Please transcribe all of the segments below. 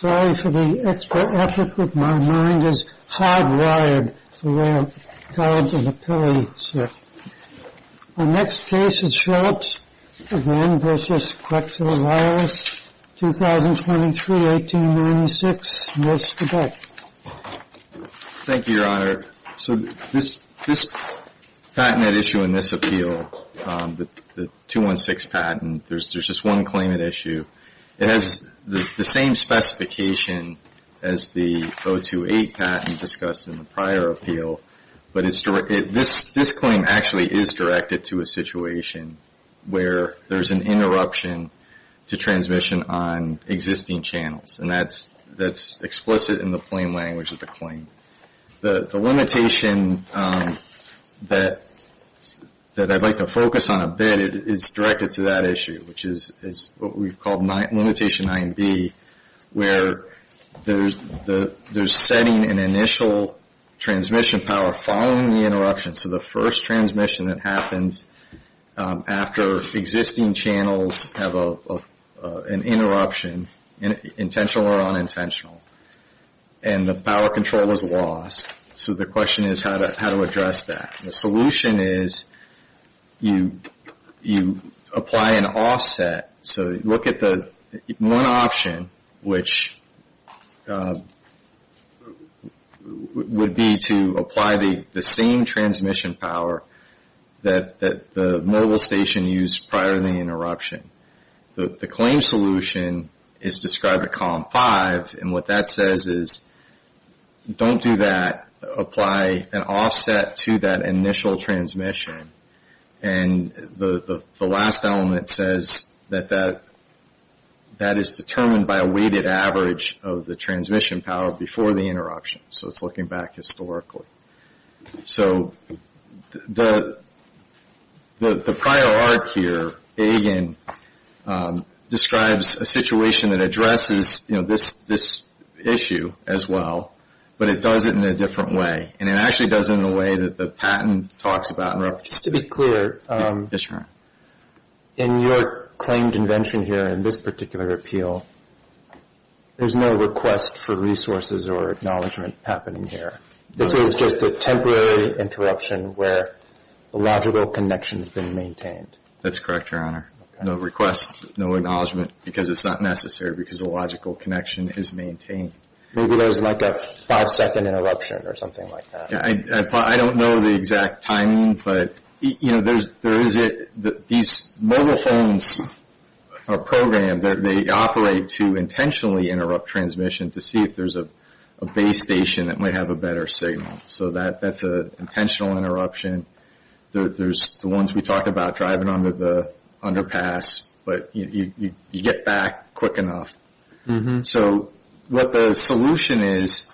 Sorry for the extra effort, but my mind is hardwired for a round of appellate work. My next case is Philips N.V. v. Quectel Wireless Solutions Co. Ltd. 2023-1896. Mr. Beck. Thank you, Your Honor. So this patent at issue in this appeal, the 216 patent, there's just one claim at issue. It has the same specification as the 028 patent discussed in the prior appeal, but this claim actually is directed to a situation where there's an interruption to transmission on existing channels. And that's explicit in the plain language of the claim. The limitation that I'd like to focus on a bit is directed to that issue, which is what we've called limitation 9b, where there's setting an initial transmission power following the interruption. So the first transmission that happens after existing channels have an interruption, intentional or unintentional, and the power control is lost. So the question is how to address that. The solution is you apply an offset. So look at the one option, which would be to apply the same transmission power that the mobile station used prior to the interruption. The claim solution is described at column 5, and what that says is don't do that. Apply an offset to that initial transmission. And the last element says that that is determined by a weighted average of the transmission power before the interruption. So it's looking back historically. So the prior arc here, again, describes a situation that addresses this issue as well, but it does it in a different way. And it actually does it in a way that the patent talks about and represents. Just to be clear, in your claimed invention here, in this particular appeal, there's no request for resources or acknowledgement happening here. This is just a temporary interruption where the logical connection has been maintained. That's correct, Your Honor. No request, no acknowledgement because it's not necessary because the logical connection is maintained. Maybe there's like a five-second interruption or something like that. I don't know the exact timing, but these mobile phones are programmed. They operate to intentionally interrupt transmission to see if there's a base station that might have a better signal. So that's an intentional interruption. There's the ones we talked about driving underpass, but you get back quick enough. So what the solution is,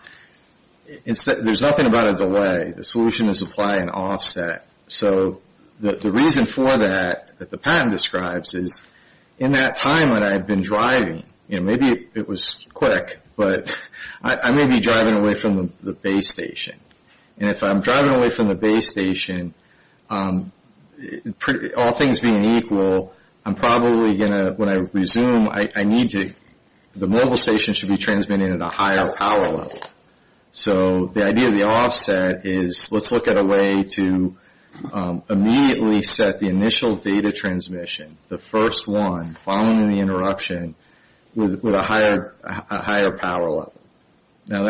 there's nothing about a delay. The solution is apply an offset. So the reason for that, that the patent describes, is in that time that I've been driving, maybe it was quick, but I may be driving away from the base station. And if I'm driving away from the base station, all things being equal, I'm probably going to, when I resume, I need to, the mobile station should be transmitted at a higher power level. So the idea of the offset is let's look at a way to immediately set the initial data transmission, the first one following the interruption, with a higher power level. Now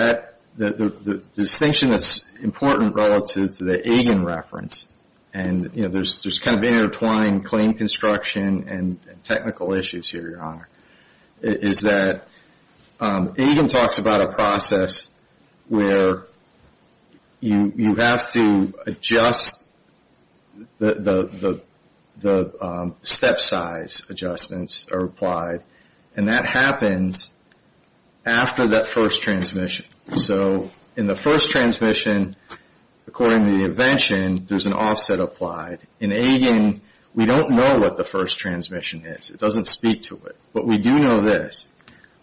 the distinction that's important relative to the Egan reference, and there's kind of an intertwined claim construction and technical issues here, Your Honor, is that Egan talks about a process where you have to adjust the step size adjustments are applied. And that happens after that first transmission. So in the first transmission, according to the invention, there's an offset applied. In Egan, we don't know what the first transmission is. It doesn't speak to it. But we do know this.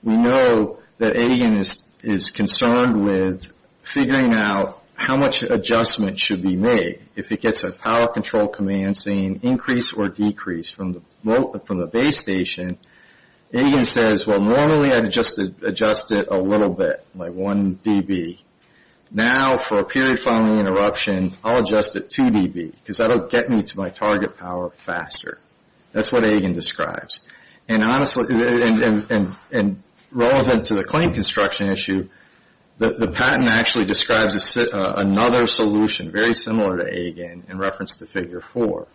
We know that Egan is concerned with figuring out how much adjustment should be made. If it gets a power control command saying increase or decrease from the base station, Egan says, well, normally I'd adjust it a little bit, like 1 dB. Now for a period following interruption, I'll adjust it 2 dB, because that will get me to my target power faster. That's what Egan describes. And relevant to the claim construction issue, the patent actually describes another solution, very similar to Egan, in reference to Figure 4,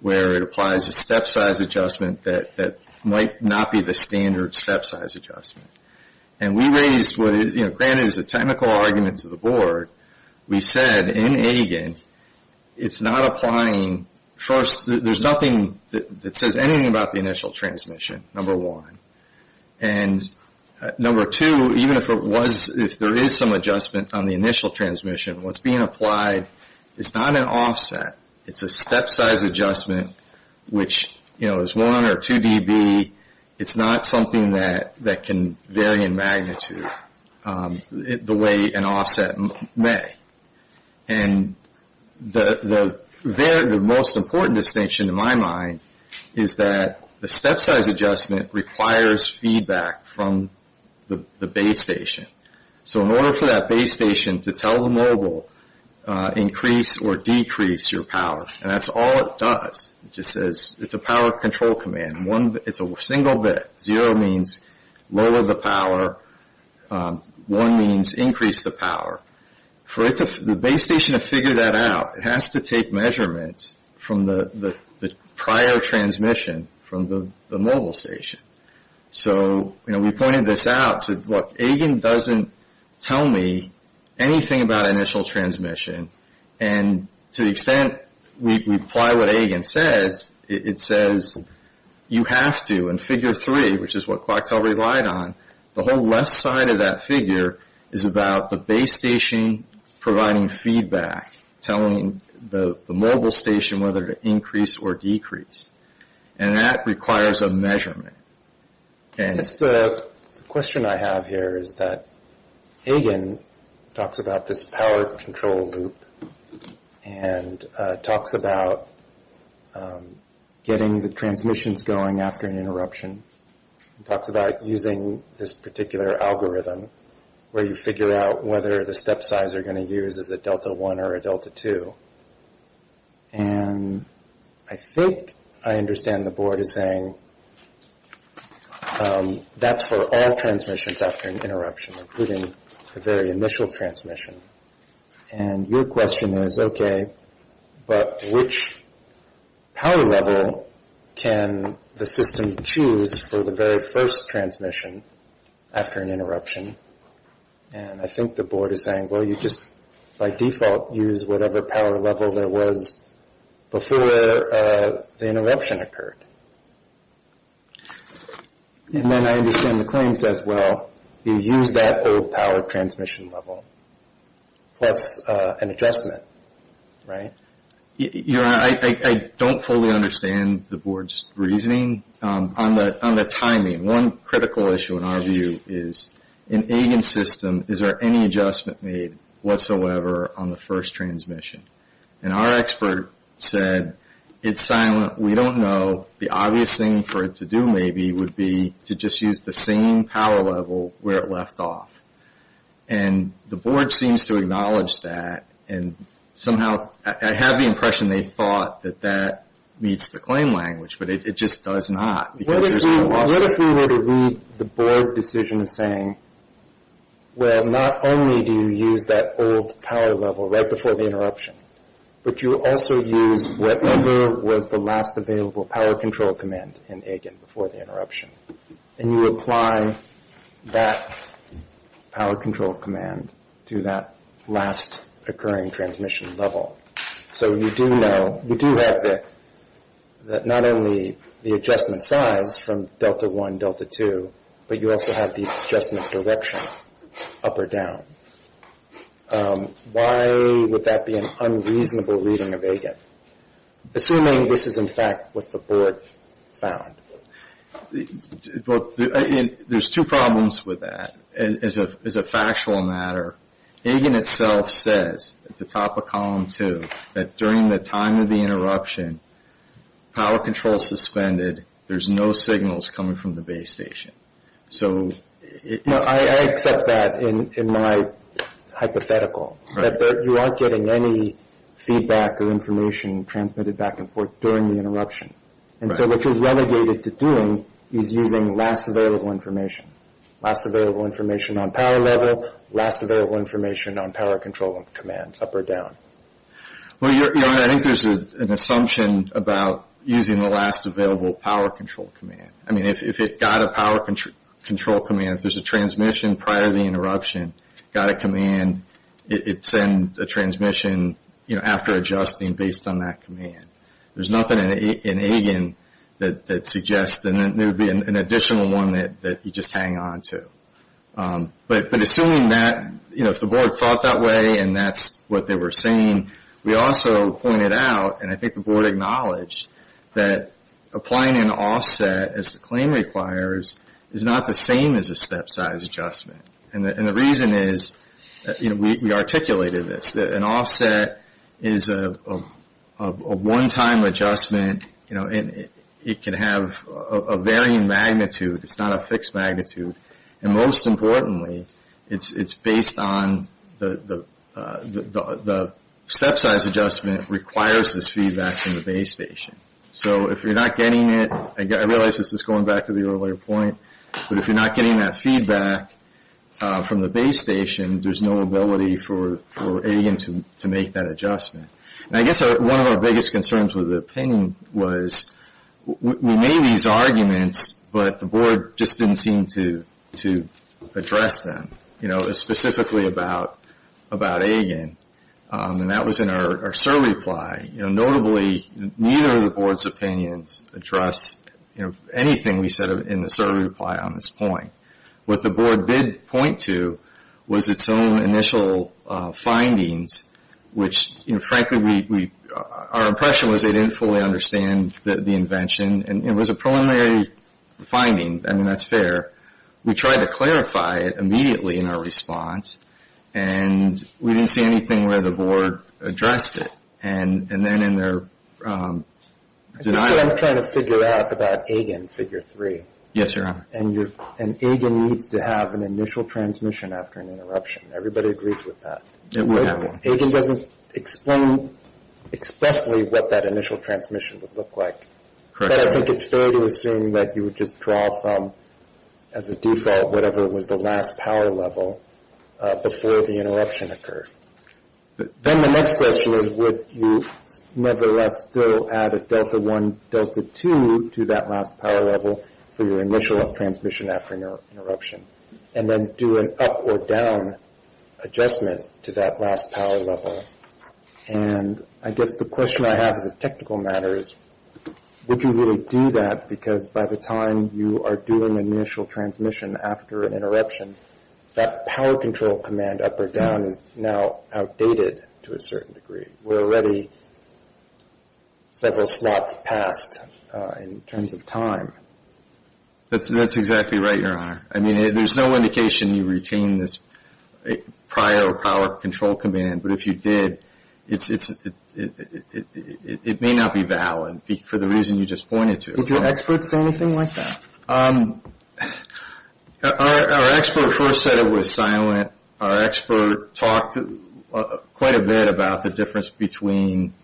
where it applies a step size adjustment that might not be the standard step size adjustment. And we raised, granted it's a technical argument to the board, we said in Egan, it's not applying, first, there's nothing that says anything about the initial transmission, number one. And number two, even if there is some adjustment on the initial transmission, what's being applied is not an offset. It's a step size adjustment, which is 1 or 2 dB. It's not something that can vary in magnitude the way an offset may. And the most important distinction, in my mind, is that the step size adjustment requires feedback from the base station. So in order for that base station to tell the mobile, increase or decrease your power, and that's all it does, it just says, it's a power control command. It's a single bit. Zero means lower the power. One means increase the power. For the base station to figure that out, it has to take measurements from the prior transmission from the mobile station. So we pointed this out. Look, Egan doesn't tell me anything about initial transmission. And to the extent we apply what Egan says, it says you have to. In figure three, which is what Coictel relied on, the whole left side of that figure is about the base station providing feedback, telling the mobile station whether to increase or decrease. And that requires a measurement. I guess the question I have here is that Egan talks about this power control loop and talks about getting the transmissions going after an interruption. He talks about using this particular algorithm where you figure out whether the step size you're going to use is a delta 1 or a delta 2. And I think I understand the board is saying that's for all transmissions after an interruption, including the very initial transmission. And your question is, okay, but which power level can the system choose for the very first transmission after an interruption? And I think the board is saying, well, you just, by default, use whatever power level there was before the interruption occurred. And then I understand the claim says, well, you use that old power transmission level plus an adjustment, right? I don't fully understand the board's reasoning on the timing. One critical issue in our view is, in Egan's system, is there any adjustment made whatsoever on the first transmission? And our expert said, it's silent. We don't know. The obvious thing for it to do maybe would be to just use the same power level where it left off. And the board seems to acknowledge that. And somehow I have the impression they thought that that meets the claim language, but it just does not. What if we were to read the board decision as saying, well, not only do you use that old power level right before the interruption, but you also use whatever was the last available power control command in Egan before the interruption. And you apply that power control command to that last occurring transmission level. So you do have not only the adjustment size from Delta 1, Delta 2, but you also have the adjustment direction up or down. Why would that be an unreasonable reading of Egan? Assuming this is, in fact, what the board found. Well, there's two problems with that. As a factual matter, Egan itself says at the top of column two that during the time of the interruption, power control is suspended, there's no signals coming from the base station. I accept that in my hypothetical, that you aren't getting any feedback or information transmitted back and forth during the interruption. And so what you're relegated to doing is using last available information. Last available information on power level, last available information on power control command up or down. Well, I think there's an assumption about using the last available power control command. I mean, if it got a power control command, if there's a transmission prior to the interruption, got a command, it sends a transmission after adjusting based on that command. There's nothing in Egan that suggests there would be an additional one that you just hang on to. But assuming that, you know, if the board thought that way and that's what they were saying, we also pointed out, and I think the board acknowledged, that applying an offset as the claim requires is not the same as a step size adjustment. And the reason is, you know, we articulated this, that an offset is a one-time adjustment, you know, and it can have a varying magnitude. It's not a fixed magnitude. And most importantly, it's based on the step size adjustment requires this feedback from the base station. So if you're not getting it, I realize this is going back to the earlier point, but if you're not getting that feedback from the base station, there's no ability for Egan to make that adjustment. And I guess one of our biggest concerns with the opinion was we made these arguments, but the board just didn't seem to address them, you know, specifically about Egan. And that was in our survey reply. Notably, neither of the board's opinions addressed anything we said in the survey reply on this point. What the board did point to was its own initial findings, which, you know, frankly, our impression was they didn't fully understand the invention. And it was a preliminary finding. I mean, that's fair. We tried to clarify it immediately in our response, and we didn't see anything where the board addressed it. And then in their denial of it. This is what I'm trying to figure out about Egan, figure three. Yes, Your Honor. And Egan needs to have an initial transmission after an interruption. Everybody agrees with that. Egan doesn't explain expressly what that initial transmission would look like. But I think it's fair to assume that you would just draw from, as a default, whatever was the last power level before the interruption occurred. Then the next question is would you nevertheless still add a delta one, delta two to that last power level for your initial transmission after an interruption, and then do an up or down adjustment to that last power level? And I guess the question I have as a technical matter is would you really do that, because by the time you are doing an initial transmission after an interruption, that power control command up or down is now outdated to a certain degree. We're already several slots past in terms of time. That's exactly right, Your Honor. I mean, there's no indication you retained this prior power control command. But if you did, it may not be valid for the reason you just pointed to. Did your expert say anything like that? Our expert first said it was silent. Our expert talked quite a bit about the difference between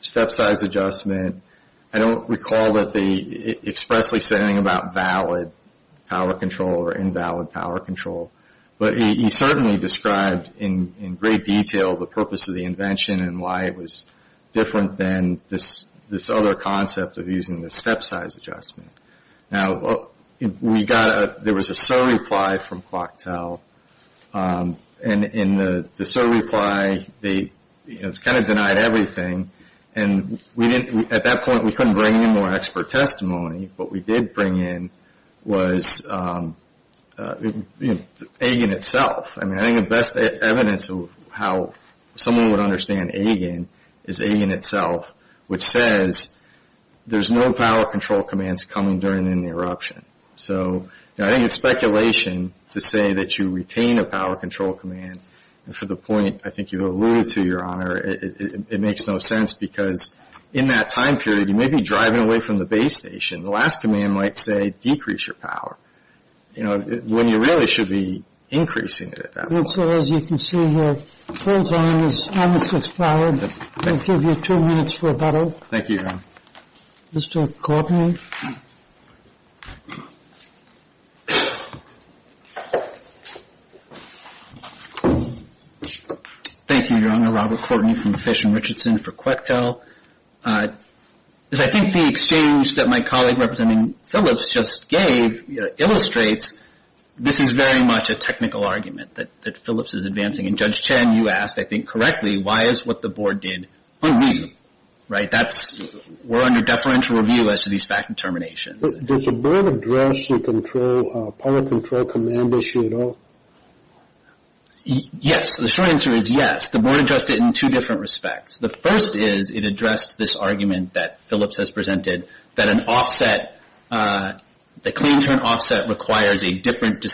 step size adjustment. I don't recall that they expressly said anything about valid power control or invalid power control. But he certainly described in great detail the purpose of the invention and why it was different than this other concept of using the step size adjustment. Now, we got a, there was a so-reply from ClockTel. And in the so-reply, they kind of denied everything. And at that point, we couldn't bring in more expert testimony. What we did bring in was AIGN itself. I mean, I think the best evidence of how someone would understand AIGN is AIGN itself, which says there's no power control commands coming during an interruption. So I think it's speculation to say that you retain a power control command. And for the point I think you alluded to, Your Honor, it makes no sense. Because in that time period, you may be driving away from the base station. The last command might say decrease your power. You know, when you really should be increasing it at that point. And so as you can see here, full time is almost expired. We'll give you two minutes for a vote. Thank you, Your Honor. Mr. Courtney. Thank you, Your Honor. Robert Courtney from Fish and Richardson for QuackTel. I think the exchange that my colleague representing Phillips just gave illustrates that this is very much a technical argument that Phillips is advancing. And Judge Chen, you asked, I think, correctly, why is what the board did unneeded. Right? We're under deferential review as to these fact determinations. Did the board address the power control command issue at all? Yes. The short answer is yes. The board addressed it in two different respects. The first is it addressed this argument that Phillips has presented that an offset, the clean turn offset requires a different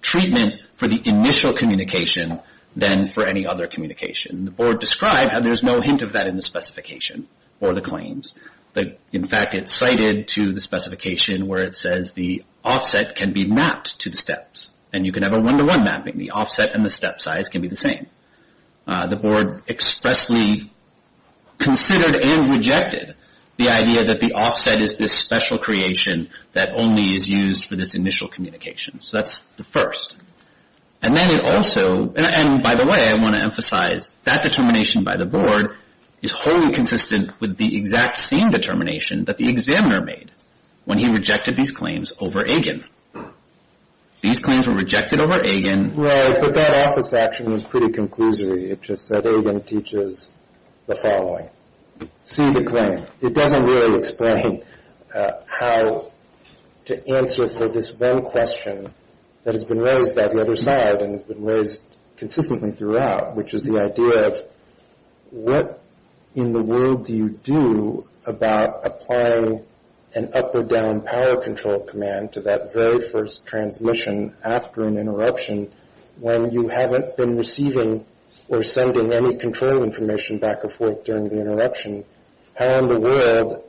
treatment for the initial communication than for any other communication. The board described that there's no hint of that in the specification or the claims. In fact, it's cited to the specification where it says the offset can be mapped to the steps. And you can have a one-to-one mapping. The offset and the step size can be the same. The board expressly considered and rejected the idea that the offset is this special creation that only is used for this initial communication. So that's the first. And then it also, and by the way, I want to emphasize, that determination by the board is wholly consistent with the exact same determination that the examiner made when he rejected these claims over Agin. These claims were rejected over Agin. Right, but that office action was pretty conclusory. It just said Agin teaches the following. See the claim. It doesn't really explain how to answer for this one question that has been raised by the other side and has been raised consistently throughout, which is the idea of what in the world do you do about applying an up or down power control command to that very first transmission after an interruption when you haven't been receiving or sending any control information back and forth during the interruption? How in the world,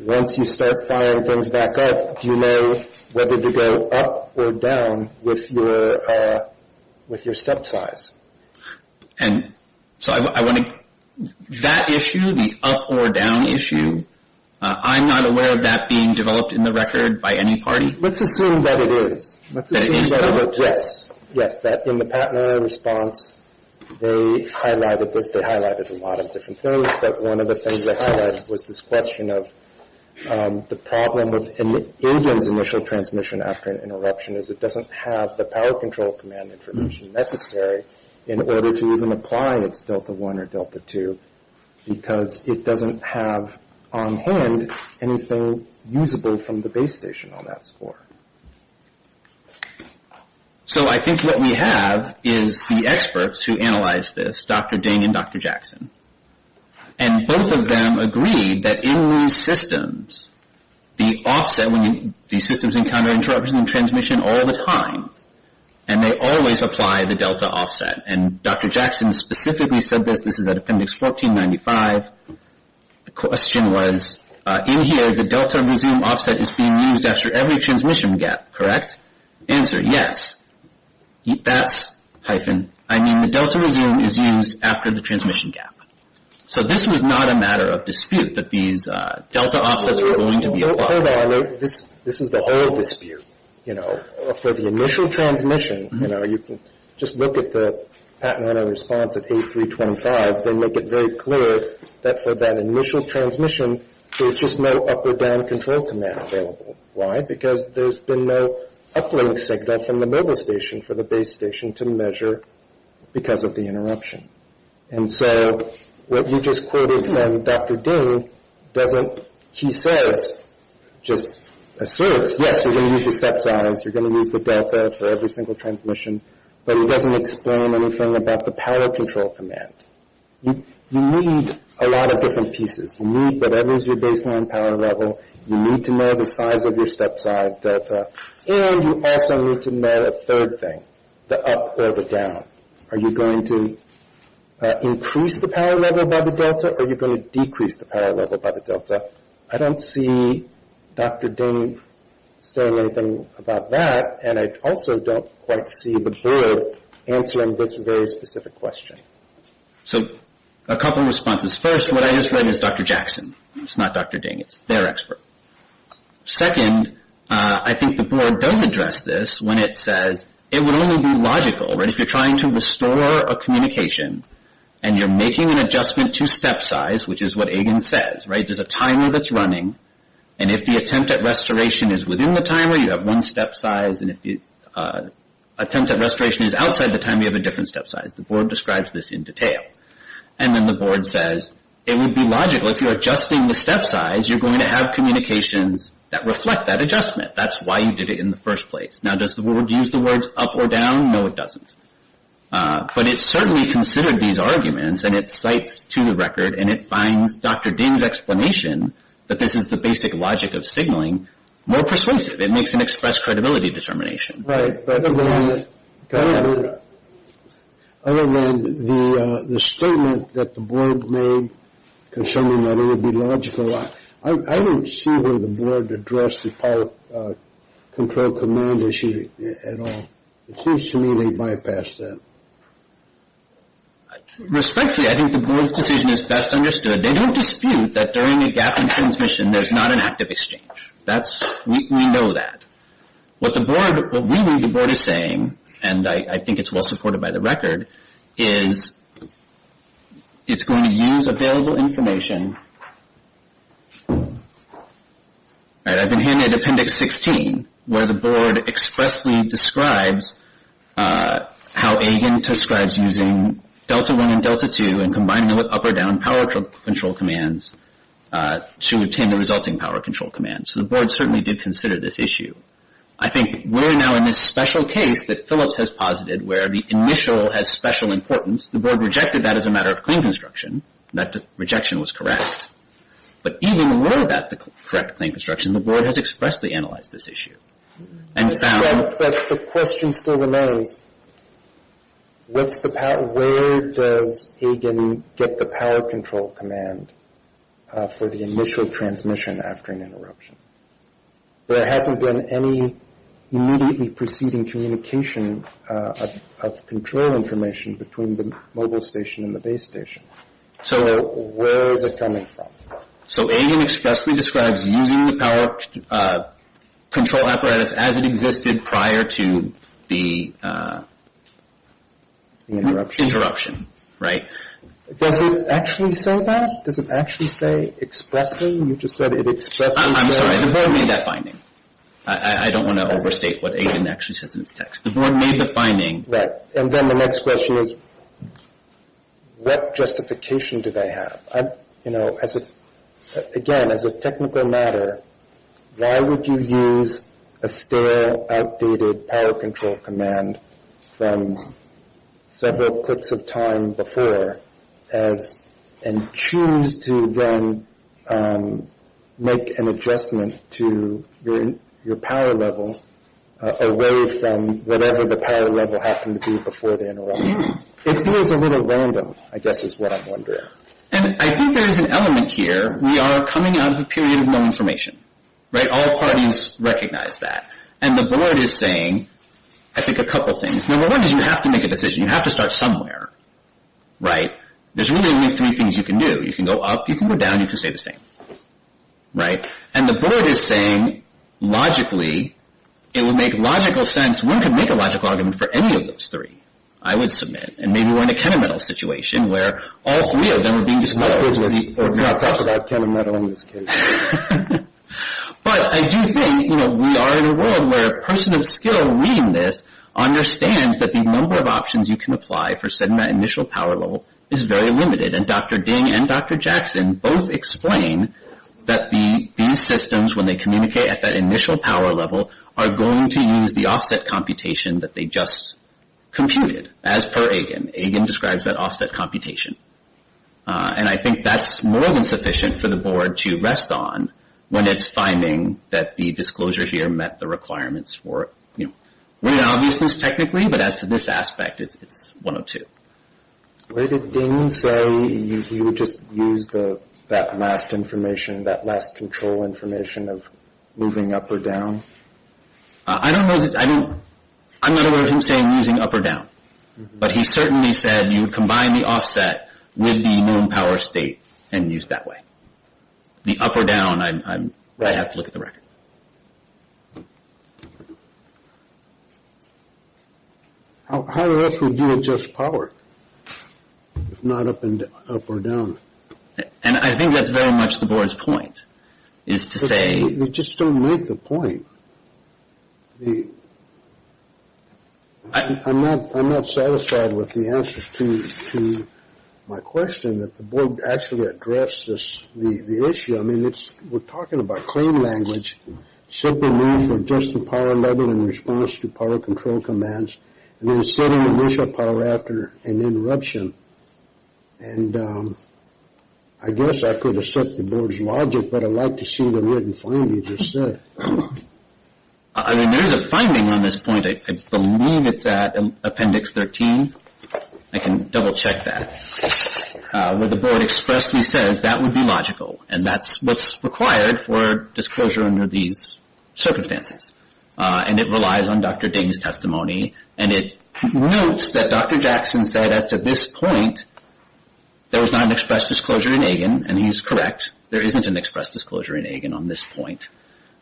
once you start firing things back up, do you know whether to go up or down with your step size? And so I want to, that issue, the up or down issue, I'm not aware of that being developed in the record by any party. Let's assume that it is. Let's assume that it is. Yes. Yes, that in the patented response they highlighted this. They highlighted a lot of different things, but one of the things they highlighted was this question of the problem with Agin's initial transmission after an interruption is it doesn't have the power control command information necessary in order to even apply its delta one or delta two because it doesn't have on hand anything usable from the base station on that score. So I think what we have is the experts who analyzed this, Dr. Ding and Dr. Jackson, and both of them agreed that in these systems, the offset when these systems encounter interruption and transmission all the time, and they always apply the delta offset. And Dr. Jackson specifically said this. This is at Appendix 1495. The question was, in here, the delta resume offset is being used after every transmission gap, correct? Answer, yes. That's hyphen. I mean the delta resume is used after the transmission gap. So this was not a matter of dispute that these delta offsets were going to be applied. Hold on. This is the whole dispute, you know. For the initial transmission, you know, you can just look at the patented response at 8325. They make it very clear that for that initial transmission, there's just no up or down control command available. Why? Because there's been no uplink signal from the mobile station for the base station to measure because of the interruption. And so what you just quoted from Dr. Ding doesn't, he says, just asserts, yes, you're going to use your step size, you're going to use the delta for every single transmission, but he doesn't explain anything about the power control command. You need a lot of different pieces. You need whatever is your baseline power level. You need to know the size of your step size delta. And you also need to know a third thing, the up or the down. Are you going to increase the power level by the delta, or are you going to decrease the power level by the delta? I don't see Dr. Ding saying anything about that, and I also don't quite see but heard answering this very specific question. So a couple of responses. First, what I just read is Dr. Jackson. It's not Dr. Ding. It's their expert. Second, I think the board does address this when it says it would only be logical, right, if you're trying to restore a communication and you're making an adjustment to step size, which is what Agen says, right? There's a timer that's running, and if the attempt at restoration is within the timer, you have one step size, and if the attempt at restoration is outside the timer, you have a different step size. The board describes this in detail. And then the board says it would be logical if you're adjusting the step size, you're going to have communications that reflect that adjustment. That's why you did it in the first place. Now, does the board use the words up or down? No, it doesn't. But it certainly considered these arguments, and it cites to the record, and it finds Dr. Ding's explanation that this is the basic logic of signaling more persuasive. It makes an express credibility determination. Right. Other than the statement that the board made concerning that it would be logical, I don't see where the board addressed the pilot control command issue at all. It seems to me they bypassed that. Respectfully, I think the board's decision is best understood. They don't dispute that during a gap in transmission, there's not an active exchange. We know that. What the board, what we know the board is saying, and I think it's well supported by the record, is it's going to use available information. I've been handed Appendix 16, where the board expressly describes how AGAN describes using Delta 1 and Delta 2 and combining them with up or down power control commands to obtain the resulting power control commands. So the board certainly did consider this issue. I think we're now in this special case that Phillips has posited where the initial has special importance. The board rejected that as a matter of claim construction. That rejection was correct. But even were that the correct claim construction, the board has expressly analyzed this issue and found The question still remains, where does AGAN get the power control command for the initial transmission after an interruption? There hasn't been any immediately proceeding communication of control information between the mobile station and the base station. So where is it coming from? So AGAN expressly describes using the power control apparatus as it existed prior to the interruption, right? Does it actually say that? Does it actually say expressly? You just said it expressly says... I'm sorry. The board made that finding. I don't want to overstate what AGAN actually says in its text. The board made the finding... Right. And then the next question is, what justification do they have? Again, as a technical matter, why would you use a stale, outdated power control command from several clips of time before and choose to then make an adjustment to your power level away from whatever the power level happened to be before the interruption? It feels a little random, I guess is what I'm wondering. And I think there is an element here. We are coming out of a period of no information, right? All parties recognize that. And the board is saying, I think, a couple things. Number one is you have to make a decision. You have to start somewhere, right? There's really only three things you can do. You can go up, you can go down, you can stay the same, right? And the board is saying, logically, it would make logical sense. One could make a logical argument for any of those three. I would submit. And maybe we're in a KeneMetal situation where all three of them are being dismantled. Let's not talk about KeneMetal in this case. But I do think we are in a world where a person of skill reading this understands that the number of options you can apply for setting that initial power level is very limited. And Dr. Ding and Dr. Jackson both explain that these systems, when they communicate at that initial power level, are going to use the offset computation that they just computed, as per Egan. Egan describes that offset computation. And I think that's more than sufficient for the board to rest on when it's finding that the disclosure here met the requirements for, you know, winning obviousness technically, but as to this aspect, it's 102. Where did Ding say you would just use that last information, that last control information of moving up or down? I don't know. I mean, I'm not aware of him saying using up or down. But he certainly said you would combine the offset with the minimum power state and use that way. The up or down, I have to look at the record. How else would you adjust power if not up or down? And I think that's very much the board's point, is to say. You just don't make the point. I'm not satisfied with the answers to my question that the board actually addressed the issue. I mean, we're talking about claim language, simply mean for adjusting power level in response to power control commands, and then setting initial power after an interruption. And I guess I could accept the board's logic, but I'd like to see the written finding just said. I mean, there's a finding on this point. I believe it's at Appendix 13. I can double-check that. Where the board expressly says that would be logical, and that's what's required for disclosure under these circumstances. And it relies on Dr. Dame's testimony, and it notes that Dr. Jackson said as to this point there was not an express disclosure in AGAN, and he's correct. There isn't an express disclosure in AGAN on this point.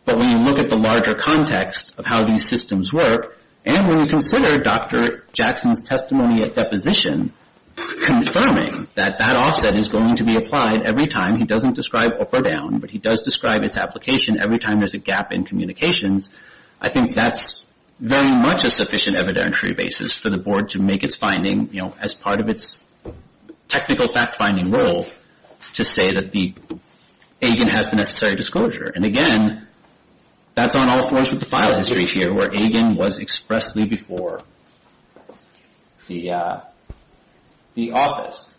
But when you look at the larger context of how these systems work, and when you consider Dr. Jackson's testimony at deposition confirming that that offset is going to be applied every time. He doesn't describe up or down, but he does describe its application every time there's a gap in communications. I think that's very much a sufficient evidentiary basis for the board to make its finding, you know, as part of its technical fact-finding role to say that the AGAN has the necessary disclosure. And again, that's on all floors with the file history here where AGAN was expressly before the office.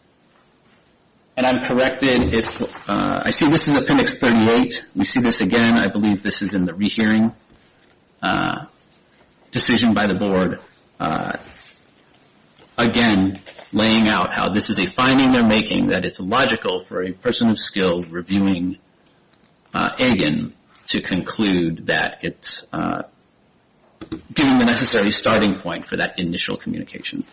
And I'm corrected if – I see this is Appendix 38. We see this again. I believe this is in the rehearing decision by the board. Again, laying out how this is a finding they're making that it's logical for a person of skill reviewing AGAN to conclude that it's given the necessary starting point for that initial communication.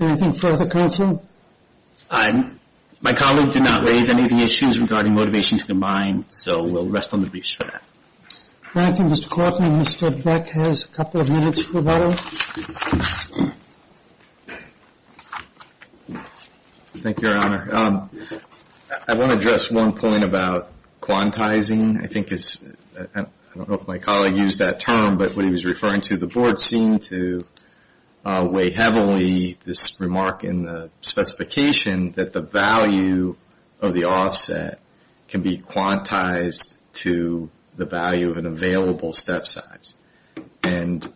Anything further, counsel? My colleague did not raise any of the issues regarding motivation to combine, so we'll rest on the briefs for that. Thank you, Mr. Coffman. Mr. Beck has a couple of minutes for that. Thank you, Your Honor. I want to address one point about quantizing. I think it's – I don't know if my colleague used that term, but what he was referring to, the board seemed to weigh heavily this remark in the specification that the value of the offset can be quantized to the value of an available step size. And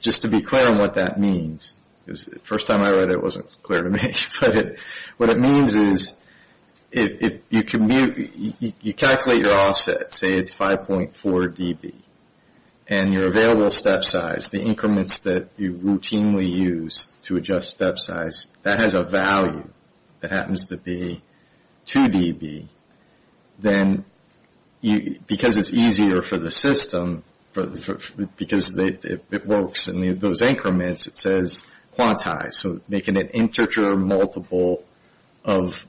just to be clear on what that means, because the first time I read it it wasn't clear to me, but what it means is you calculate your offset, say it's 5.4 dB, and your available step size, the increments that you routinely use to adjust step size, that has a value that happens to be 2 dB. Then because it's easier for the system, because it works in those increments, it says quantized, so making it integer or multiple of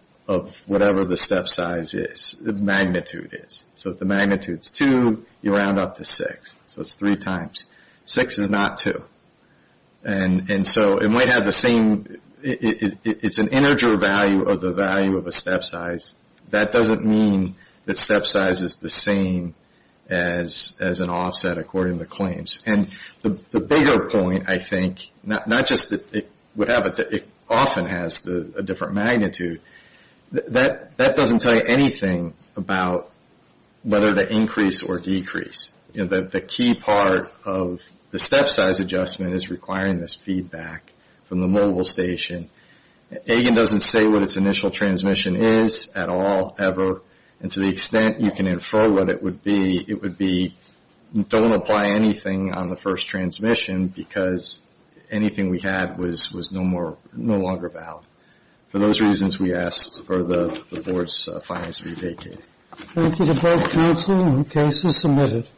whatever the step size is, magnitude is. So if the magnitude is 2, you round up to 6, so it's 3 times. 6 is not 2. And so it might have the same – it's an integer value of the value of a step size. That doesn't mean that step size is the same as an offset according to claims. And the bigger point, I think, not just that it would have – it often has a different magnitude. That doesn't tell you anything about whether to increase or decrease. You know, the key part of the step size adjustment is requiring this feedback from the mobile station. Again, it doesn't say what its initial transmission is at all, ever, and to the extent you can infer what it would be, it would be don't apply anything on the first transmission because anything we had was no longer valid. For those reasons, we ask for the board's finance to be vacated. Thank you to both counsel and the case is submitted.